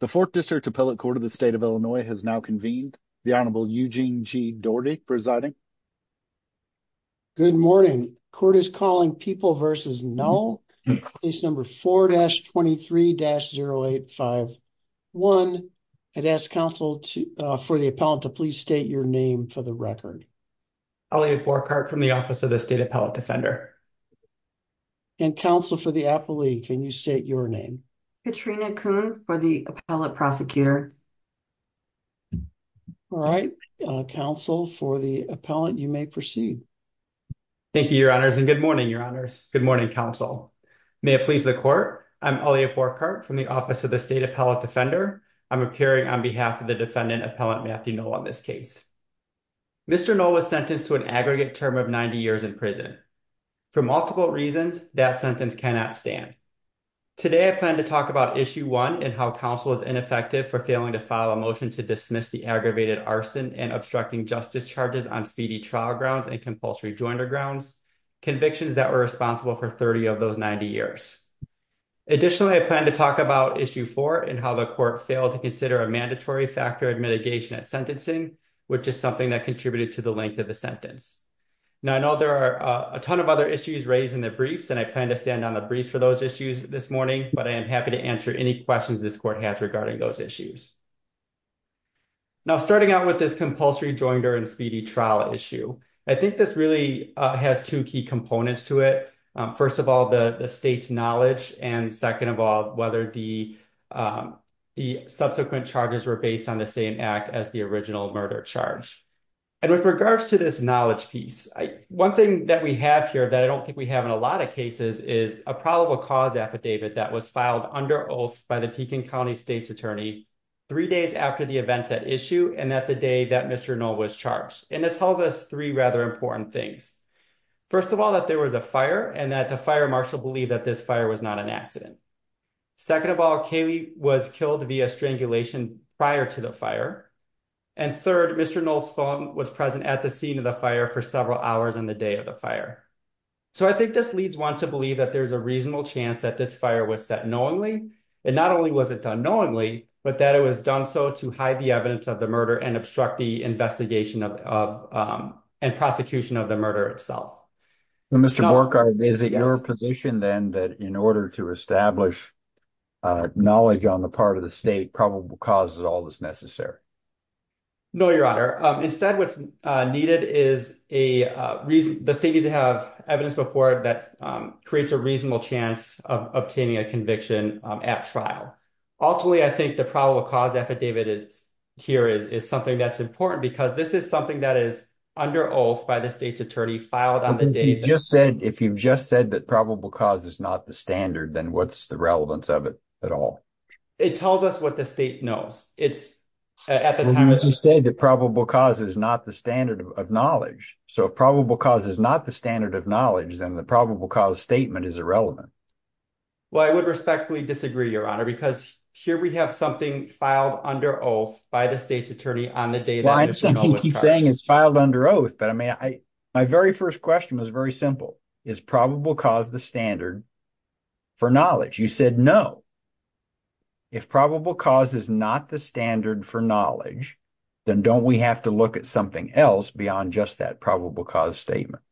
The 4th District Appellate Court of the State of Illinois has now convened. The Honorable Eugene G. Doherty presiding. Good morning. Court is calling People v. Null case number 4-23-0851. I'd ask counsel for the appellate to please state your name for the record. Elliot Borchardt from the Office of the State Appellate Defender. And counsel for the appellee, can you state your name? Katrina Kuhn for the appellate prosecutor. All right. Counsel for the appellate, you may proceed. Thank you, Your Honors. And good morning, Your Honors. Good morning, counsel. May it please the court. I'm Elliot Borchardt from the Office of the State Appellate Defender. I'm appearing on behalf of the defendant, Appellant Matthew Null, on this case. Mr. Null was sentenced to an aggregate term of 90 years in prison. For multiple reasons, that sentence cannot stand. Today, I plan to talk about Issue 1 and how counsel is ineffective for failing to file a motion to dismiss the aggravated arson and obstructing justice charges on speedy trial grounds and compulsory jointer grounds, convictions that were responsible for 30 of those 90 years. Additionally, I plan to talk about Issue 4 and how the court failed to consider a mandatory factor of mitigation at sentencing, which is something that contributed to the length of the sentence. Now, I know there are a ton of other issues raised in the briefs, and I plan to stand on the briefs for those issues this morning, but I am happy to answer any questions this court has regarding those issues. Now, starting out with this compulsory jointer and speedy trial issue, I think this really has two key components to it. First of all, the state's knowledge, and second of all, whether the subsequent charges were based on the same act as the original murder charge. And with regards to this knowledge piece, one thing that we have here that I don't think we have in a lot of cases is a probable cause affidavit that was filed under oath by the Pekin County State's Attorney three days after the events at issue and at the day that Mr. Knoll was charged. And it tells us three rather important things. First of all, that there was a fire and that the fire marshal believed that this fire was not an accident. Second of all, Kaylee was killed via strangulation prior to the fire. And third, Mr. Knoll's phone was present at the scene of the fire for several hours on the day of the fire. So I think this leads one to believe that there's a reasonable chance that this fire was set knowingly, and not only was it done knowingly, but that it was done so to hide the evidence of the murder and obstruct the investigation and prosecution of the murder itself. Mr. Borchardt, is it your position then that in order to establish knowledge on the part of the state, probable cause is all that's necessary? No, Your Honor. Instead, what's needed is the state needs to have evidence before it that creates a reasonable chance of obtaining a conviction at trial. Ultimately, I think the probable cause affidavit here is something that's important because this is something that is under oath by the state's attorney filed on the day- If you've just said that probable cause is not the standard, then what's the relevance of it at all? It tells us what the state knows. Well, you just said that probable cause is not the standard of knowledge. So if probable cause is not the standard of knowledge, then the probable cause statement is irrelevant. Well, I would respectfully disagree, Your Honor, because here we have something filed under oath by the state's attorney on the day- Well, I'm saying it's filed under oath, but I mean, my very first question was very simple. Is probable cause the standard for knowledge? You said no. If probable cause is not the standard for knowledge, then don't we have to look at something else beyond just that probable cause statement?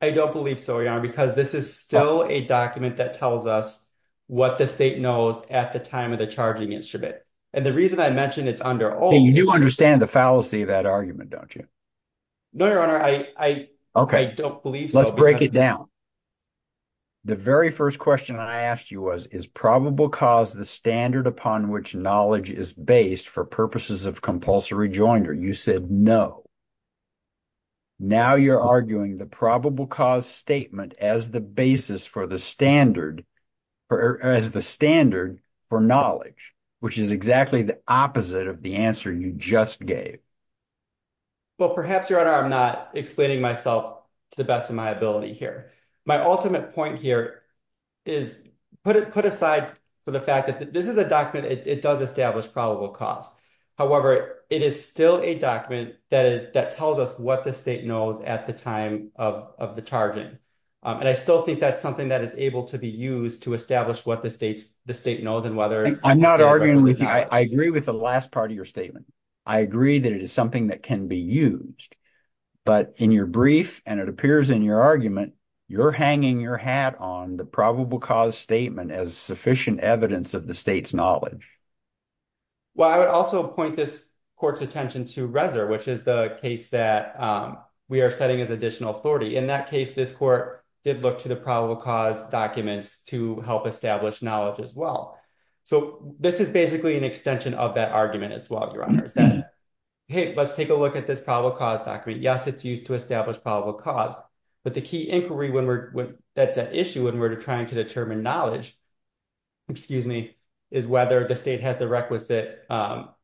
I don't believe so, Your Honor, because this is still a document that tells us what the state knows at the time of the charging instrument. And the reason I mention it's under oath- You do understand the fallacy of that argument, don't you? No, Your Honor, I don't believe so. Let's break it down. The very first question I asked you was, is probable cause the standard upon which knowledge is based for purposes of compulsory joinder? You said no. Now you're arguing the probable cause statement as the basis for the standard, or as the standard for knowledge, which is exactly the opposite of the answer you just gave. Well, perhaps, Your Honor, I'm not explaining myself to the best of my ability here. My ultimate point here is put aside for the fact that this is a document that does establish probable cause. However, it is still a document that tells us what the state knows at the time of the charging. And I still think that's something that is able to be used to establish what the state knows and whether- I'm not arguing with you. I agree with the last part of your statement. I agree that it is something that can be used. But in your brief, and it appears in your argument, you're hanging your hat on the probable cause statement as sufficient evidence of the state's knowledge. Well, I would also point this court's attention to Reser, which is the case that we are setting as additional authority. In that case, this court did look to the probable cause documents to help establish knowledge as well. So this is basically an extension of that argument as well, Your Honor, is that, hey, let's take a look at this probable cause document. Yes, it's used to establish probable cause, but the key inquiry that's at issue when we're trying to determine knowledge, excuse me, is whether the state has the requisite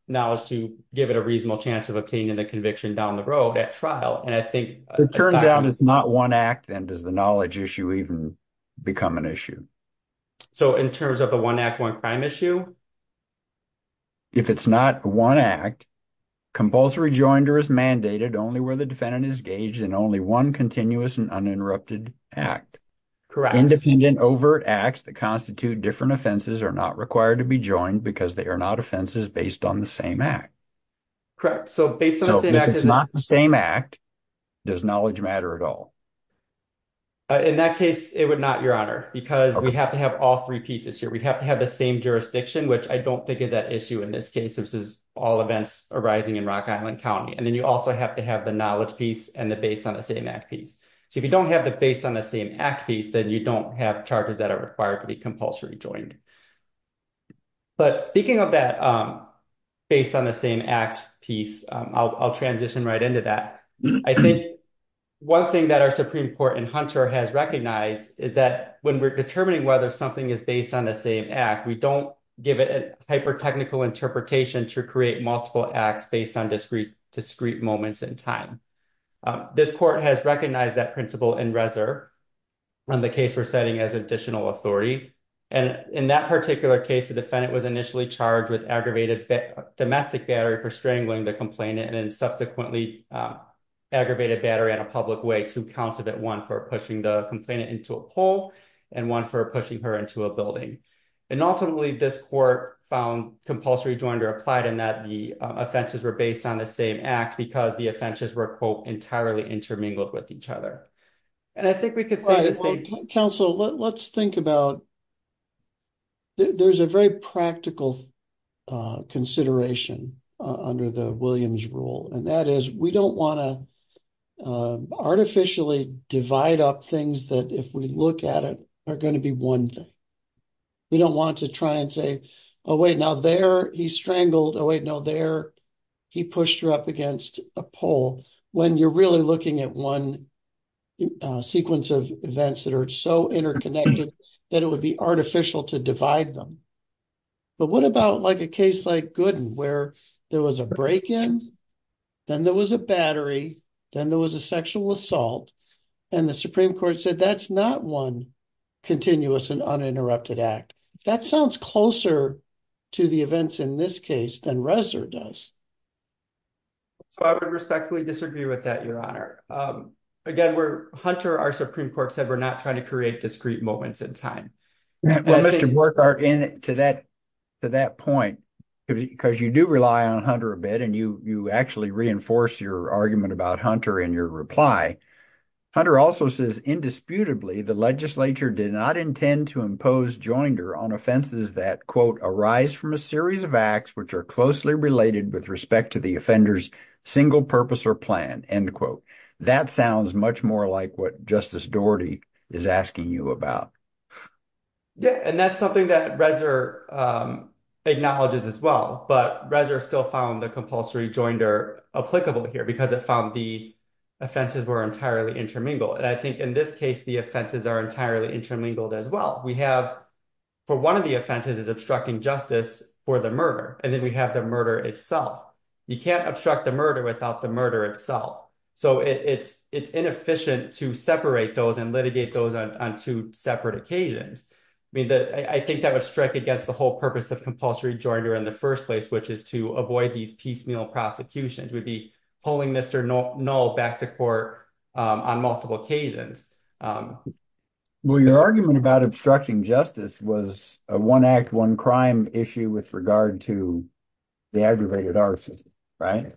knowledge to give it a reasonable chance of obtaining the conviction down the road at trial. It turns out it's not one act, and does the knowledge issue even become an issue? So in terms of a one act, one crime issue? If it's not one act, compulsory joinder is mandated only where the defendant is gauged in only one continuous and uninterrupted act. Independent overt acts that constitute different offenses are not required to be joined because they are not offenses based on the same act. Correct. So if it's not the same act, does knowledge matter at all? In that case, it would not, Your Honor, because we have to have all three pieces here. We have to have the same jurisdiction, which I don't think is at issue in this case. This is all events arising in Rock Island County. And then you also have to have the knowledge piece and the based on the same act piece. So if you don't have the based on the same act piece, then you don't have charges that are required to be compulsory joined. But speaking of that based on the same act piece, I'll transition right into that. I think one thing that our Supreme Court in Hunter has recognized is that when we're determining whether something is based on the same act, we don't give it a hyper-technical interpretation to create multiple acts based on discrete moments in time. This court has recognized that principle in Reser on the case we're setting as additional authority. And in that particular case, the defendant was initially charged with aggravated domestic battery for strangling the complainant and subsequently aggravated battery in a public way. Two counts of it, one for pushing the complainant into a pole and one for pushing her into a building. And ultimately, this court found compulsory joined or applied in that the offenses were based on the same act because the offenses were, quote, entirely intermingled with each other. And I think we could say the same. Counsel, let's think about... There's a very practical consideration under the Williams rule, and that is we don't want to artificially divide up things that if we look at it are going to be one thing. We don't want to try and say, oh, wait, now there he strangled, oh, wait, no, there he pushed her up against a pole when you're really looking at one sequence of events that are so interconnected that it would be artificial to divide them. But what about a case like Gooden where there was a break-in, then there was a battery, then there was a sexual assault, and the Supreme Court said that's not one continuous and uninterrupted act. That sounds closer to the events in this case than Reznor does. So I would respectfully disagree with that, Your Honor. Again, Hunter, our Supreme Court said we're not trying to create discrete moments in time. Well, Mr. Burkhart, to that point, because you do rely on Hunter a bit, and you actually reinforce your argument about Hunter in your reply, Hunter also says, indisputably, the legislature did not intend to impose joinder on offenses that, quote, arise from a series of acts which are closely related with respect to the offender's single purpose or plan, end quote. That sounds much more like what Justice Doherty is asking you about. Yeah, and that's something that Reznor acknowledges as well. But Reznor still found the compulsory joinder applicable here because it found the offenses were entirely intermingled. And I think in this case, the offenses are entirely intermingled as well. For one of the offenses is obstructing justice for the murder, and then we have the murder itself. You can't obstruct the murder without the murder itself. So it's inefficient to separate those and litigate those on two separate occasions. I think that would strike against the whole purpose of compulsory joinder in the first place, which is to avoid these piecemeal prosecutions. We'd be pulling Mr. Null back to court on multiple occasions. Well, your argument about obstructing justice was a one-act, one-crime issue with regard to the aggravated arts, right?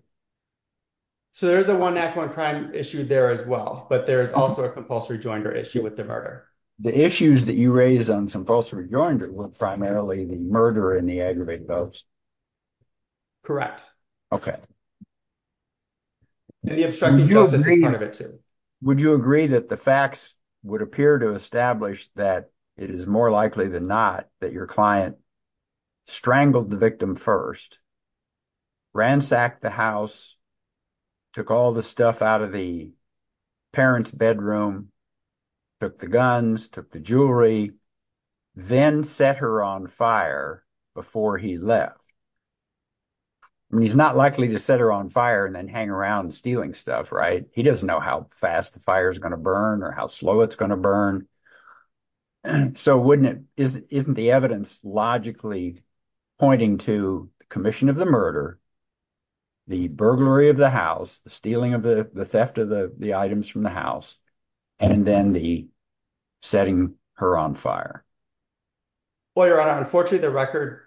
So there's a one-act, one-crime issue there as well, but there's also a compulsory joinder issue with the murder. The issues that you raise on compulsory joinder were primarily the murder and the aggravated votes. Correct. And the obstructing justice is part of it, too. Would you agree that the facts would appear to establish that it is more likely than not that your client strangled the victim first, ransacked the house, took all the stuff out of the parents' bedroom, took the guns, took the jewelry, then set her on fire before he left? I mean, he's not likely to set her on fire and then hang around stealing stuff, right? He doesn't know how fast the fire's going to burn or how slow it's going to burn. So isn't the evidence logically pointing to the commission of the murder, the burglary of the house, the stealing of the theft of the items from the house, and then the setting her on fire? Well, Your Honor, unfortunately, the record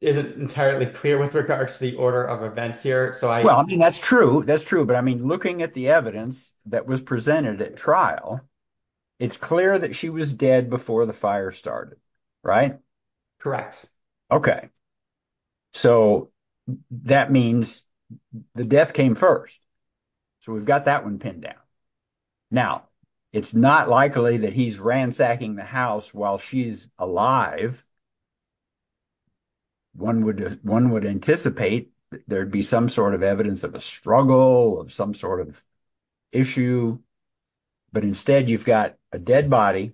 isn't entirely clear with regard to the order of events here. Well, I mean, that's true. That's true. But I mean, looking at the evidence that was presented at trial, it's clear that she was dead before the fire started, right? Correct. Okay. So that means the death came first. So we've got that one pinned down. Now, it's not likely that he's ransacking the house while she's alive. One would anticipate there'd be some sort of evidence of a struggle, of some sort of issue. But instead, you've got a dead body.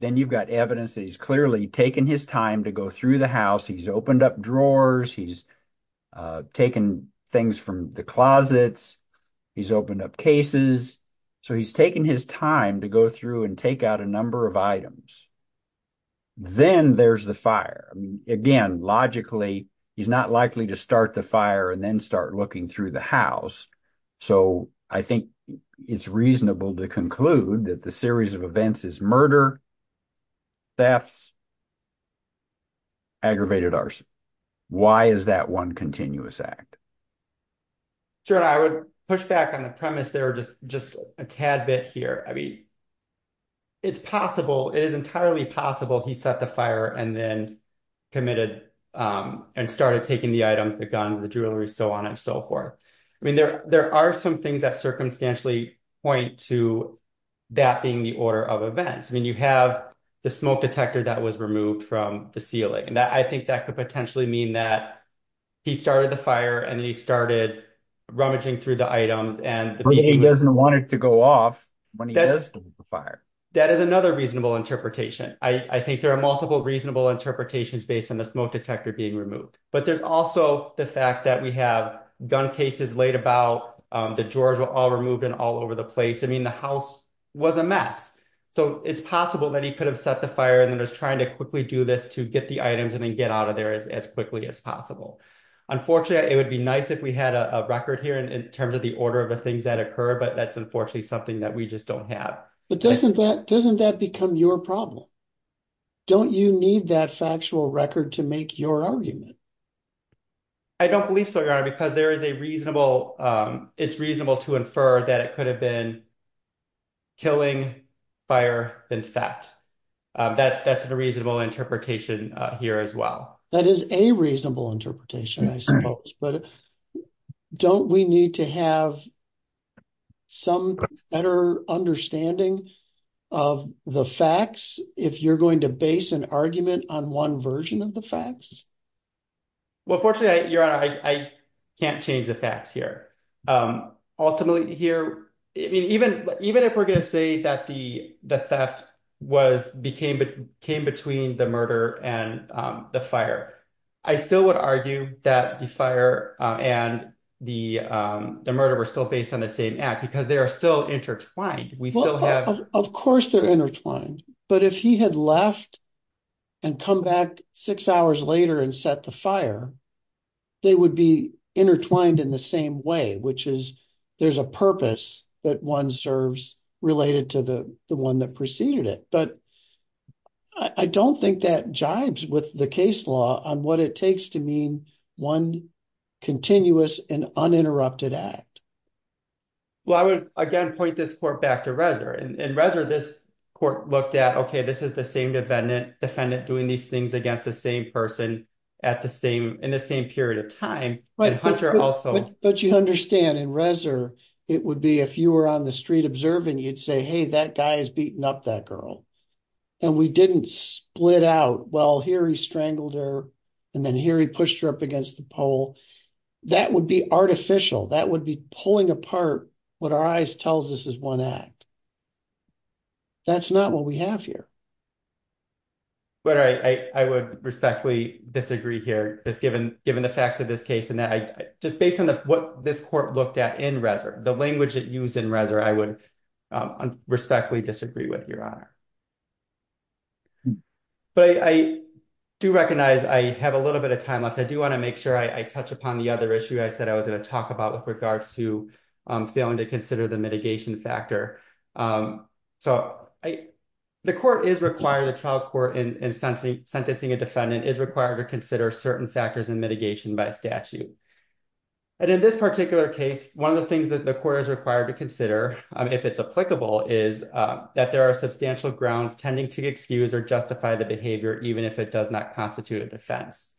Then you've got evidence that he's clearly taken his time to go through the house. He's opened up drawers. He's taken things from the closets. He's opened up cases. So he's taken his time to go through and take out a number of items. Then there's the fire. Again, logically, he's not likely to start the fire and then start looking through the house. So I think it's reasonable to conclude that the series of events is murder, thefts, aggravated arson. Why is that one continuous act? Sure. I would push back on the premise there just a tad bit here. I mean, it's possible. It is entirely possible he set the fire and then committed and started taking the items, the guns, the jewelry, so on and so forth. I mean, there are some things that circumstantially point to that being the order of events. I mean, you have the smoke detector that was removed from the ceiling. I think that could potentially mean that he started the fire and then he started rummaging through the items. He doesn't want it to go off when he does start the fire. That is another reasonable interpretation. I think there are multiple reasonable interpretations based on the smoke detector being removed. But there's also the fact that we have gun cases laid about, the drawers were all removed and all over the place. I mean, the house was a mess. So it's possible that he could have set the fire and then was trying to quickly do this to get the items and then get out of there as quickly as possible. Unfortunately, it would be nice if we had a record here in terms of the order of the things that occur, but that's unfortunately something that we just don't have. But doesn't that become your problem? Don't you need that factual record to make your argument? I don't believe so, Your Honor, because there is a reasonable, it's reasonable to infer that it could have been killing, fire, then theft. That's a reasonable interpretation here as well. That is a reasonable interpretation, I suppose. But don't we need to have some better understanding of the facts if you're going to base an argument on one version of the facts? Well, fortunately, Your Honor, I can't change the facts here. Ultimately here, even if we're going to say that the theft came between the murder and the fire. I still would argue that the fire and the murder were still based on the same act because they are still intertwined. Of course they're intertwined, but if he had left and come back six hours later and set the fire, they would be intertwined in the same way, which is there's a purpose that one serves related to the one that preceded it. I don't think that jibes with the case law on what it takes to mean one continuous and uninterrupted act. Well, I would again point this court back to Reznor. In Reznor, this court looked at, okay, this is the same defendant doing these things against the same person in the same period of time. But you understand in Reznor, it would be if you were on the street observing, you'd say, hey, that guy is beating up that girl. We didn't split out, well, here he strangled her and then here he pushed her up against the pole. That would be artificial. That would be pulling apart what our eyes tells us is one act. That's not what we have here. But I would respectfully disagree here just given the facts of this case and just based on what this court looked at in Reznor, the language used in Reznor, I would respectfully disagree with your honor. But I do recognize I have a little bit of time left. I do want to make sure I touch upon the other issue I said I was going to talk about with regards to failing to consider the mitigation factor. So the court is required, the trial court in sentencing a defendant is required to consider certain factors in mitigation by statute. And in this particular case, one of the things that the court is required to consider if it's applicable is that there are substantial grounds tending to excuse or justify the behavior even if it does not constitute a defense.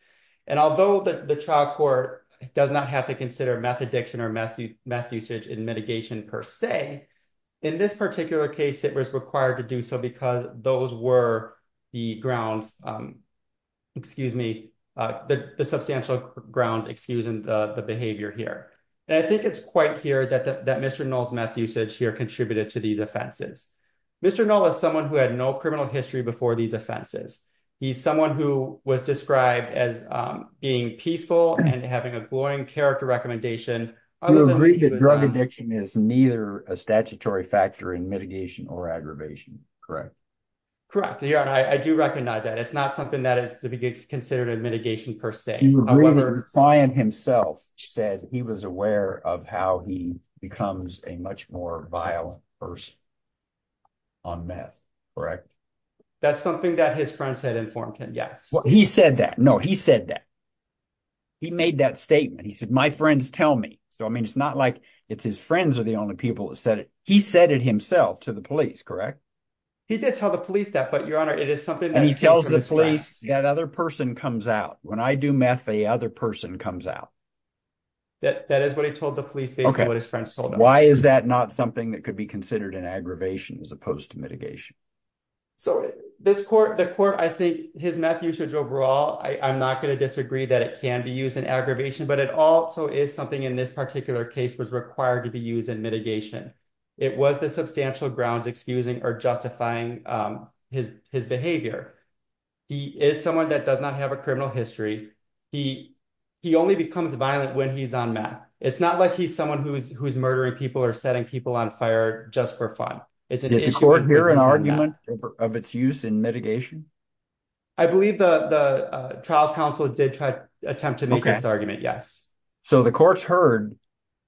Although the trial court does not have to consider meth addiction or meth usage in mitigation per se, in this particular case it was required to do so because those were the grounds, excuse me, the substantial grounds excusing the behavior here. And I think it's quite clear that Mr. Null's meth usage here contributed to these offenses. Mr. Null is someone who had no criminal history before these offenses. He's someone who was described as being peaceful and having a glowing character recommendation. You agree that drug addiction is neither a statutory factor in mitigation or aggravation, correct? Correct. I do recognize that. It's not something that is considered a mitigation per se. The client himself says he was aware of how he becomes a much more violent person on meth, correct? That's something that his friend said in Form 10, yes. He said that. No, he said that. He made that statement. He said, my friends tell me. So, I mean, it's not like it's his friends are the only people that said it. He said it himself to the police, correct? He did tell the police that, but, Your Honor, it is something that he told his friends. And he tells the police that other person comes out. When I do meth, the other person comes out. That is what he told the police based on what his friends told Why is that not something that could be considered an aggravation as opposed to mitigation? So, this court, the court, I think his meth usage overall, I'm not going to disagree that it can be used in aggravation, but it also is something in this particular case was required to be used in mitigation. It was the substantial grounds excusing or justifying his behavior. He is someone that does not have a criminal history. He only becomes violent when he's on meth. It's not like he's someone who's murdering people or setting people on fire just for fun. Did the court hear an argument of its use in mitigation? I believe the trial counsel did attempt to make this argument, yes. So, the courts heard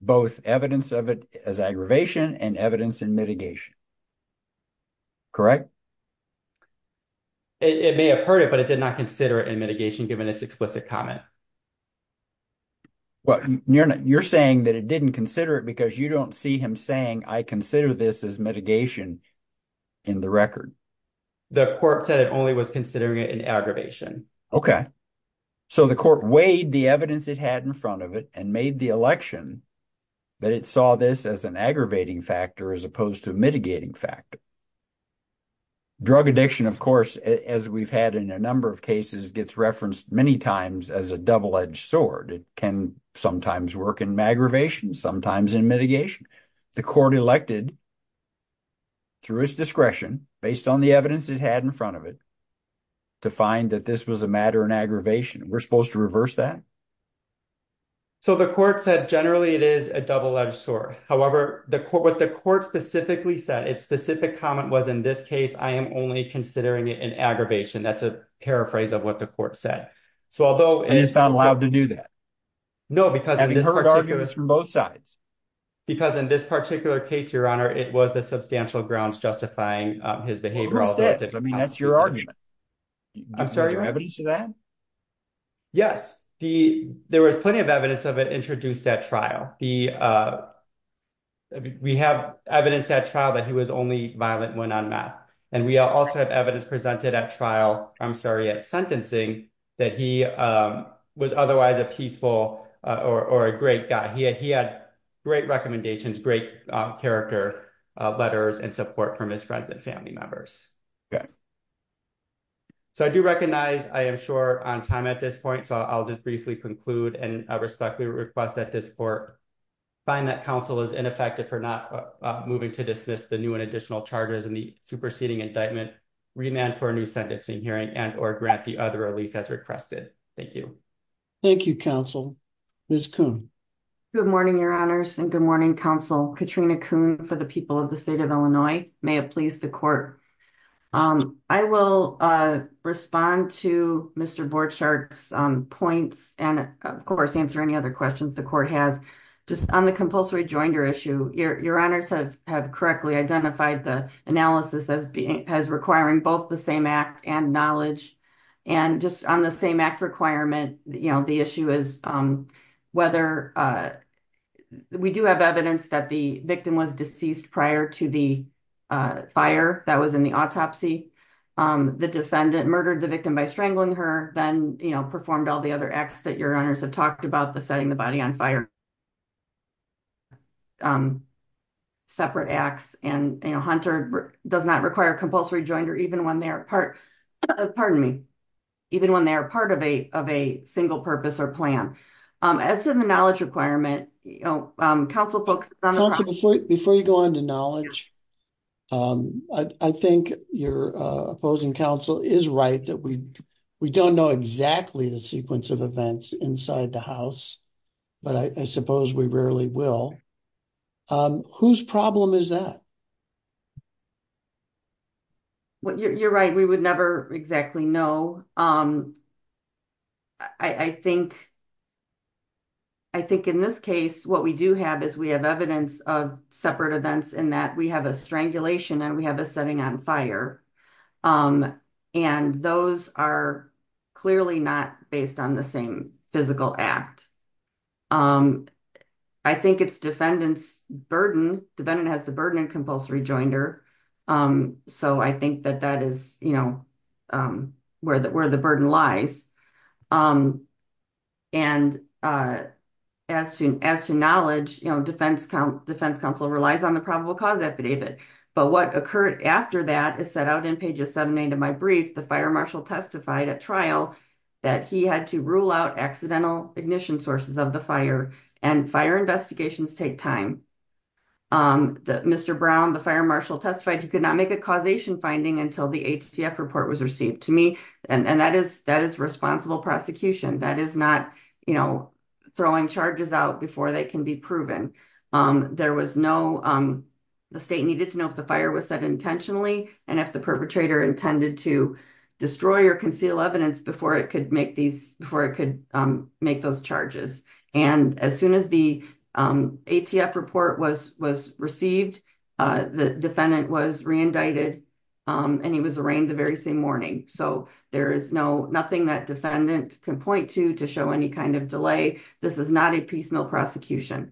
both evidence of it as aggravation and evidence in mitigation. Correct? It may have heard it, but it did not consider it in mitigation given its explicit comment. Well, you're saying that it didn't consider it because you don't see him saying, I consider this as mitigation in the record. The court said it only was considering it in aggravation. Okay. So, the court weighed the evidence it had in front of it and made the election that it saw this as an aggravating factor as opposed to a mitigating factor. Drug addiction, of course, as we've had in a number of cases, gets referenced many times as a double-edged sword. It can sometimes work in aggravation, sometimes in mitigation. The court elected, through its discretion, based on the evidence it had in front of it, to find that this was a matter in aggravation. We're supposed to reverse that? So, the court said, generally, it is a double-edged sword. However, what the court specifically said, its specific comment was, in this case, I am only considering it in aggravation. That's a paraphrase of what the court said. And it's not allowed to do that? No. Having heard arguments from both sides. Because in this particular case, Your Honor, it was the court that was identifying his behavior. That's your argument. Is there evidence of that? Yes. There was plenty of evidence of it introduced at trial. We have evidence at trial that he was only violent when on meth. And we also have evidence presented at trial, I'm sorry, at sentencing, that he was otherwise a peaceful or a great guy. He had great recommendations, great character letters and great support from his friends and family members. Okay. So, I do recognize I am short on time at this point. So, I'll just briefly conclude and respectfully request that this court find that counsel is ineffective for not moving to dismiss the new and additional charges in the superseding indictment, remand for a new sentencing hearing and or grant the other relief as requested. Thank you. Thank you, counsel. Ms. Kuhn. Good morning, Your Honors. And good morning, counsel. Katrina Kuhn for the people of the state of Illinois. May it please the court. I will respond to Mr. Borchardt's points and, of course, answer any other questions the court has. Just on the compulsory joinder issue, Your Honors have correctly identified the analysis as requiring both the same act and knowledge. And just on the same act requirement, you know, the issue is whether we do have evidence that the victim was deceased prior to the fire that was in the autopsy. The defendant murdered the victim by strangling her. Then, you know, performed all the other acts that Your Honors have talked about, the setting the body on fire. Separate acts. And, you know, Hunter does not require a compulsory joinder even when they are part of a single purpose or plan. As to the knowledge requirement, you know, counsel focuses on the process. Counsel, before you go on to the next part of your question, I would like to ask you a question. I think you are opposing counsel is right that we don't know exactly the sequence of events inside the house. But I suppose we rarely will. Whose problem is that? You are right. We would never exactly know. I think in this case, what we do have is we have evidence of separate events inside the house. And that we have a strangulation and we have a setting on fire. And those are clearly not based on the same physical act. I think it's defendant's burden. Defendant has the burden of compulsory joinder. So I think that that is, you know, where the burden lies. And as to knowledge, you know, defense counsel relies on the probable cause. I don't have a probable cause. But what occurred after that is set out in pages seven and eight of my brief. The fire marshal testified at trial that he had to rule out accidental ignition sources of the fire. And fire investigations take time. Mr. Brown, the fire marshal testified he could not make a causation finding until the HTF report was received. To me, and that is responsible prosecution. That is not, you know, throwing charges out before they can be proven. There was no, you know, The state needed to know if the fire was set intentionally and if the perpetrator intended to destroy or conceal evidence before it could make these, before it could make those charges. And as soon as the. ATF report was, was received. The defendant was re-indicted. And he was arraigned the very same morning. So there is no, nothing that defendant can point to, to show any kind of delay. This is not a piecemeal prosecution.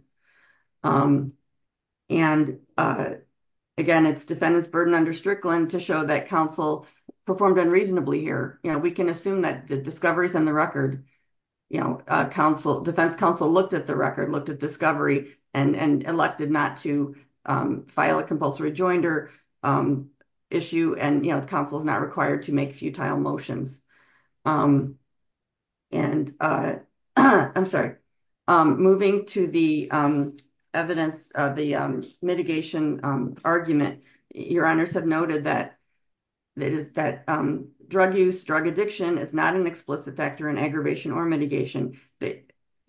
And. Again, it's defendant's burden under Strickland to show that counsel. Performed unreasonably here. You know, we can assume that the discoveries in the record. You know, council defense council looked at the record, looked at discovery and elected not to file a compulsive rejoinder. Issue. And, you know, the council is not required to make futile motions. And. I'm sorry. Moving to the evidence of the mitigation argument. Your honors have noted that. That is that drug use drug addiction is not an explicit factor in aggravation or mitigation.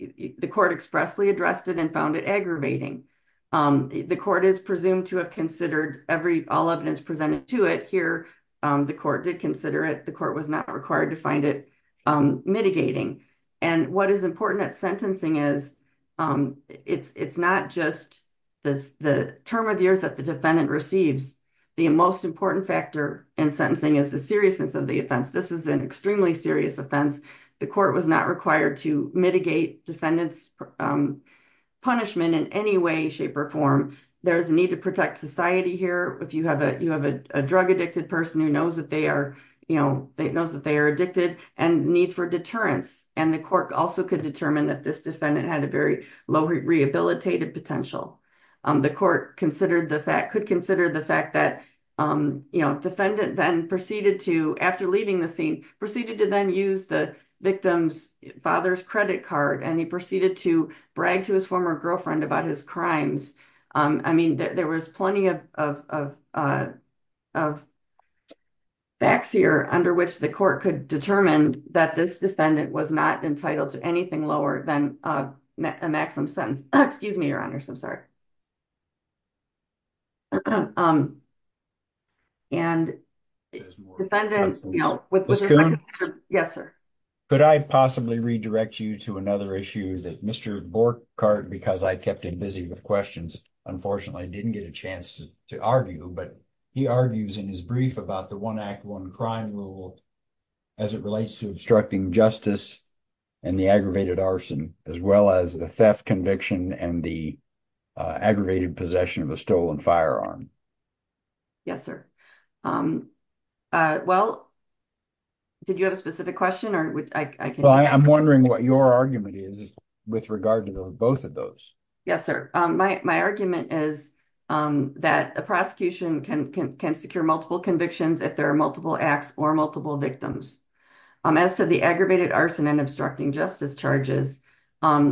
The court expressly addressed it and found it aggravating. The court is presumed to have considered every all evidence presented to it here. The court did consider it. The court was not required to find it. Mitigating. And what is important at sentencing is. It's it's not just. The term of years that the defendant receives. The most important factor in sentencing is the seriousness of the offense. This is an extremely serious offense. The court was not required to mitigate defendants. Punishment in any way, shape, or form. There's a need to protect society here. If you have a, you have a drug addicted person who knows that they are, you know, They know that they are addicted and need for deterrence. And the court also could determine that this defendant had a very low rehabilitated potential. The court considered the fact could consider the fact that, you know, defendant then proceeded to, after leaving the scene, proceeded to then use the victim's father's credit card. And he proceeded to brag to his former girlfriend about his crimes. I mean, there was plenty of, of, of, of. There was plenty of facts here under which the court could determine that this defendant was not entitled to anything lower than a maximum sentence. Excuse me, your honors. I'm sorry. And. Yes, sir. Could I possibly redirect you to another issues that Mr. Bork card, because I kept him busy with questions. Yeah, sure. One is unfortunately didn't get a chance to to argue, but he argues in his brief about the one act one crime rule. As it relates to obstructing justice. And the aggravated arson, as well as the theft conviction and the aggravated possession of a stolen firearm. Yes, sir. Well. Did you have a specific question or I can. Well, I, I'm wondering what your argument is with regard to the, both of those. Yes, sir. My, my argument is. That the prosecution can, can, can secure multiple convictions. If there are multiple acts or multiple victims. As to the aggravated arson and obstructing justice charges.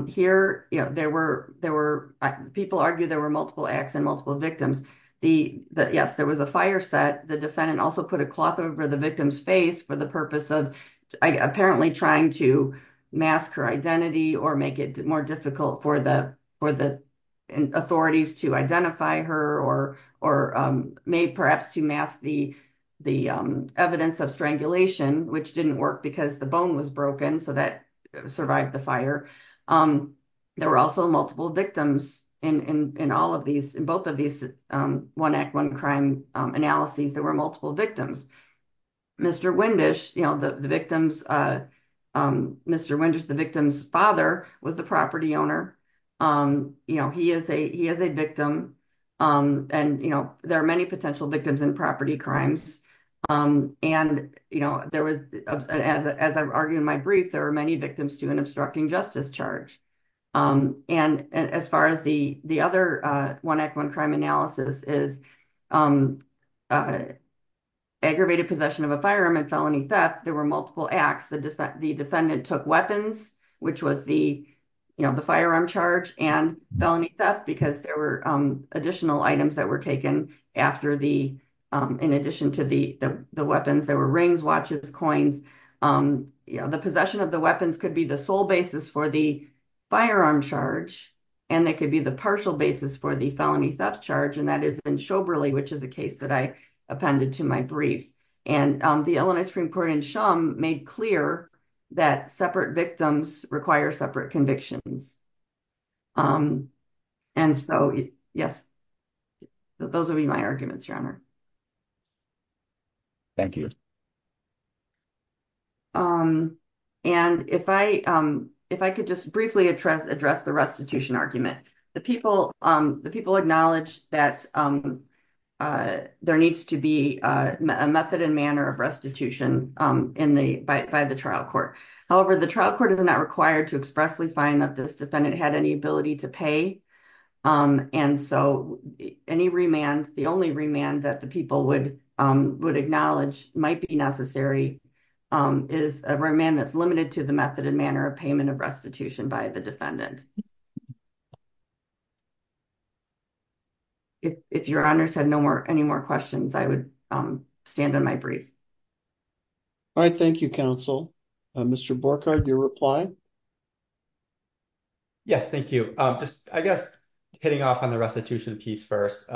Here. Yeah, there were, there were people argue there were multiple acts and multiple victims. The yes, there was a fire set. The defendant also put a cloth over the victim's face for the purpose of. Apparently trying to mask her identity or make it more difficult for the, for the. Authorities to identify her or, or may perhaps to mask the, the evidence of strangulation, which didn't work because the bone was broken so that survived the fire. There were also multiple victims in, in, in all of these, in both of these one act, one crime analysis, there were multiple victims. Mr. Windish, you know, the, the victims. Mr. Winters, the victim's father was the property owner. You know, he is a, he has a victim. And, you know, there are many potential victims in property crimes. And, you know, there was. As I've argued in my brief, there are many victims to an obstructing justice charge. And as far as the, the other one act, one crime analysis is. Aggravated possession of a firearm and felony theft. There were multiple acts that the defendant took weapons, which was the. You know, the firearm charge and felony theft, because there were additional items that were taken after the, in addition to the, the weapons that were rings, watches, coins. You know, the possession of the weapons could be the sole basis for the firearm charge. And that could be the partial basis for the felony theft charge. And that is in Shoberly, which is the case that I appended to my brief. And the Illinois Supreme court in sham made clear that separate victims require separate convictions. And so, yes. Those will be my arguments. Thank you. And if I, if I could just briefly address, address the restitution argument, the people, the people acknowledge that there needs to be a method and manner of restitution in the, by the trial court. However, the trial court is not required to expressly find that this defendant had any ability to pay. And so any remand, the only remand that the people would would acknowledge might be necessary is a remand that's limited to the method and manner of payment of restitution by the defendant. If your honors had no more, any more questions, I would stand on my brief. All right. Thank you. Counsel, Mr. Borkhardt, your reply. Yes. Thank you. Just, I guess hitting off on the restitution piece first.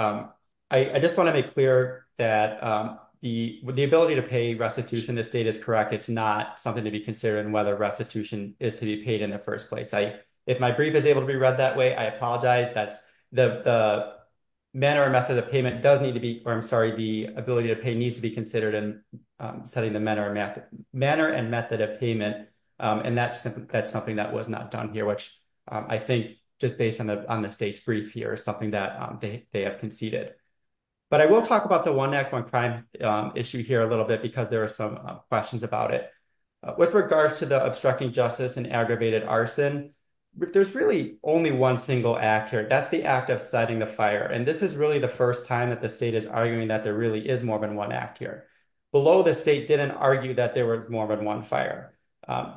I just want to make clear that the, the ability to pay restitution, the state is correct. It's not something to be considered and whether restitution is to be paid in the first place. I, if my brief is able to be read that way, I apologize. That's the manner or method of payment does need to be, or I'm sorry, the ability to pay needs to be considered and setting the manner of math manner and method of payment. And that's, that's something that was not done here, which I think just based on the, on the state's brief here is something that they have conceded, but I will talk about the one neck one crime issue here a little bit because there are some questions about it with regards to the obstructing justice and aggravated arson. There's really only one single actor. That's the act of setting the fire. And this is really the first time that the state is arguing that there really is more than one act here below the state. Didn't argue that there was more than one fire.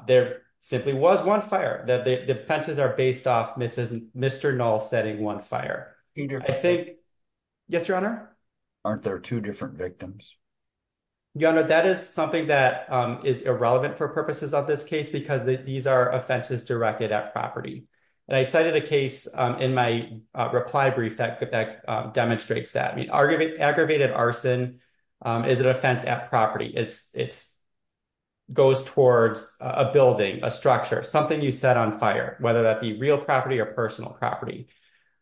There simply was one fire that the fences are based off. Mrs. Mr. Null setting one fire. Yes, your honor. Aren't there two different victims. That is something that is irrelevant for purposes of this case, because these are offenses directed at property. And I cited a case in my reply brief that could, that demonstrates that. I mean, are giving aggravated arson. Is it a fence at property? It's it's. Goes towards a building, a structure, something you set on fire, whether that be real property or personal property.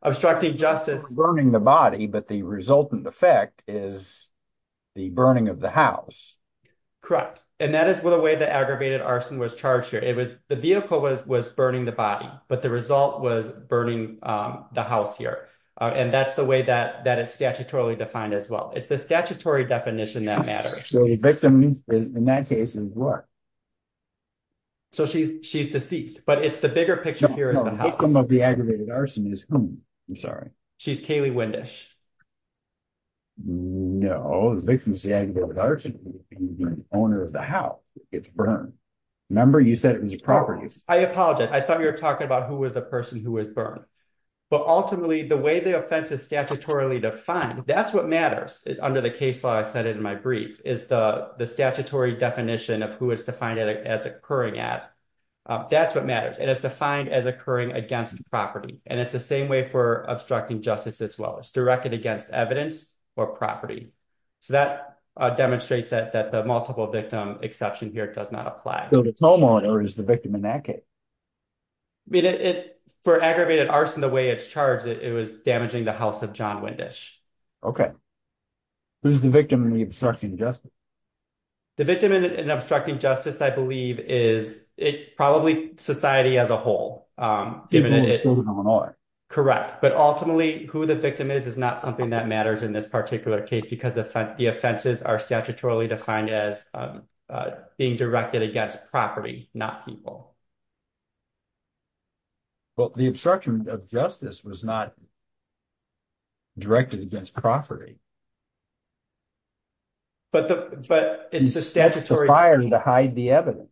And so it's not just a case of setting fire to a building. I'm structuring justice burning the body, but the resultant effect is. The burning of the house. Correct. And that is what a way that aggravated arson was charged here. It was the vehicle was, was burning the body, but the result was burning. The house here. And that's the way that, that it's statutorily defined as well. It's the statutory definition that matter. In that case is what. So she's, she's deceased, but it's the bigger picture here. The aggravated arson is. I'm sorry. She's Kaylee Wendish. No, it's the owner of the house. It's burn. Remember you said it was a property. I apologize. I thought you were talking about who was the person who was burned, but ultimately the way the offense is statutorily defined. That's what matters under the case law. I said it in my brief is the statutory definition of who is to find it as occurring at. That's what matters. And it's defined as occurring against the property. And it's the same way for obstructing justice as well as directed against evidence or property. So that demonstrates that, that the multiple victim exception here does not apply to the homeowner is the victim in that case. For aggravated arson, the way it's charged, it was damaging the house of John Wendish. Who's the victim in the obstruction justice. The victim in an obstructing justice, I believe is it probably society as a whole. Correct. But ultimately who the victim is, is not something that matters in this particular case, because the effect, the offenses are statutorily defined as being directed against property, not people. Well, the obstruction of justice was not directed against property. But the, but it's the statutory firing to hide the evidence,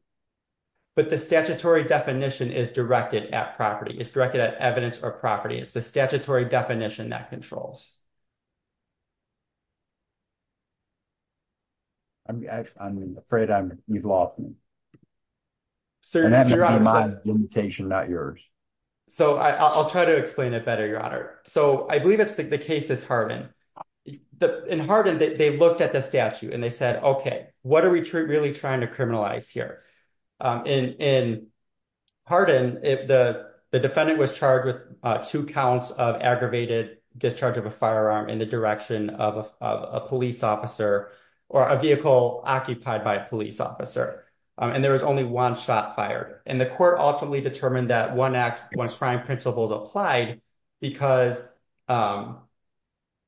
but the statutory definition is directed at property is directed at evidence or property. It's the statutory definition that controls. I'm actually, I'm afraid I'm, you've lost me. So that's my limitation, not yours. So I'll try to explain it better, So I believe it's the, the case is hardened. The in hardened, they looked at the statute and they said, okay, what are we really trying to criminalize here? In hardened, if the defendant was charged with two counts of aggravated discharge of a firearm in the direction of a police officer or a vehicle occupied by a police officer, and there was only one shot fired and the court ultimately determined that one act, one crime principles applied because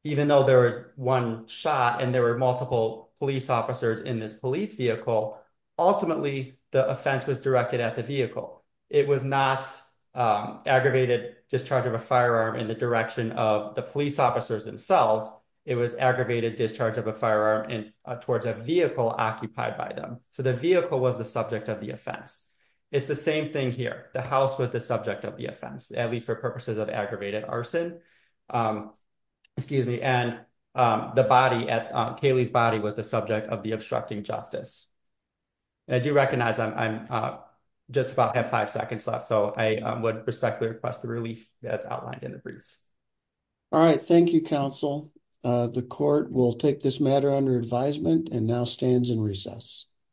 even though there was one shot and there were multiple police officers in this police vehicle, ultimately the offense was directed at the vehicle. It was not aggravated discharge of a firearm in the direction of the police officers themselves. It was aggravated discharge of a firearm and towards a vehicle occupied by them. So the vehicle was the subject of the offense. It's the same thing here. The house was the subject of the offense, at least for purposes of aggravated arson. Excuse me. And the body at Kaylee's body was the subject of the obstructing justice. And I do recognize I'm just about have five seconds left. So I would respectfully request the relief that's outlined in the briefs. All right. Thank you. Counsel the court will take this matter under advisement and now stands in recess.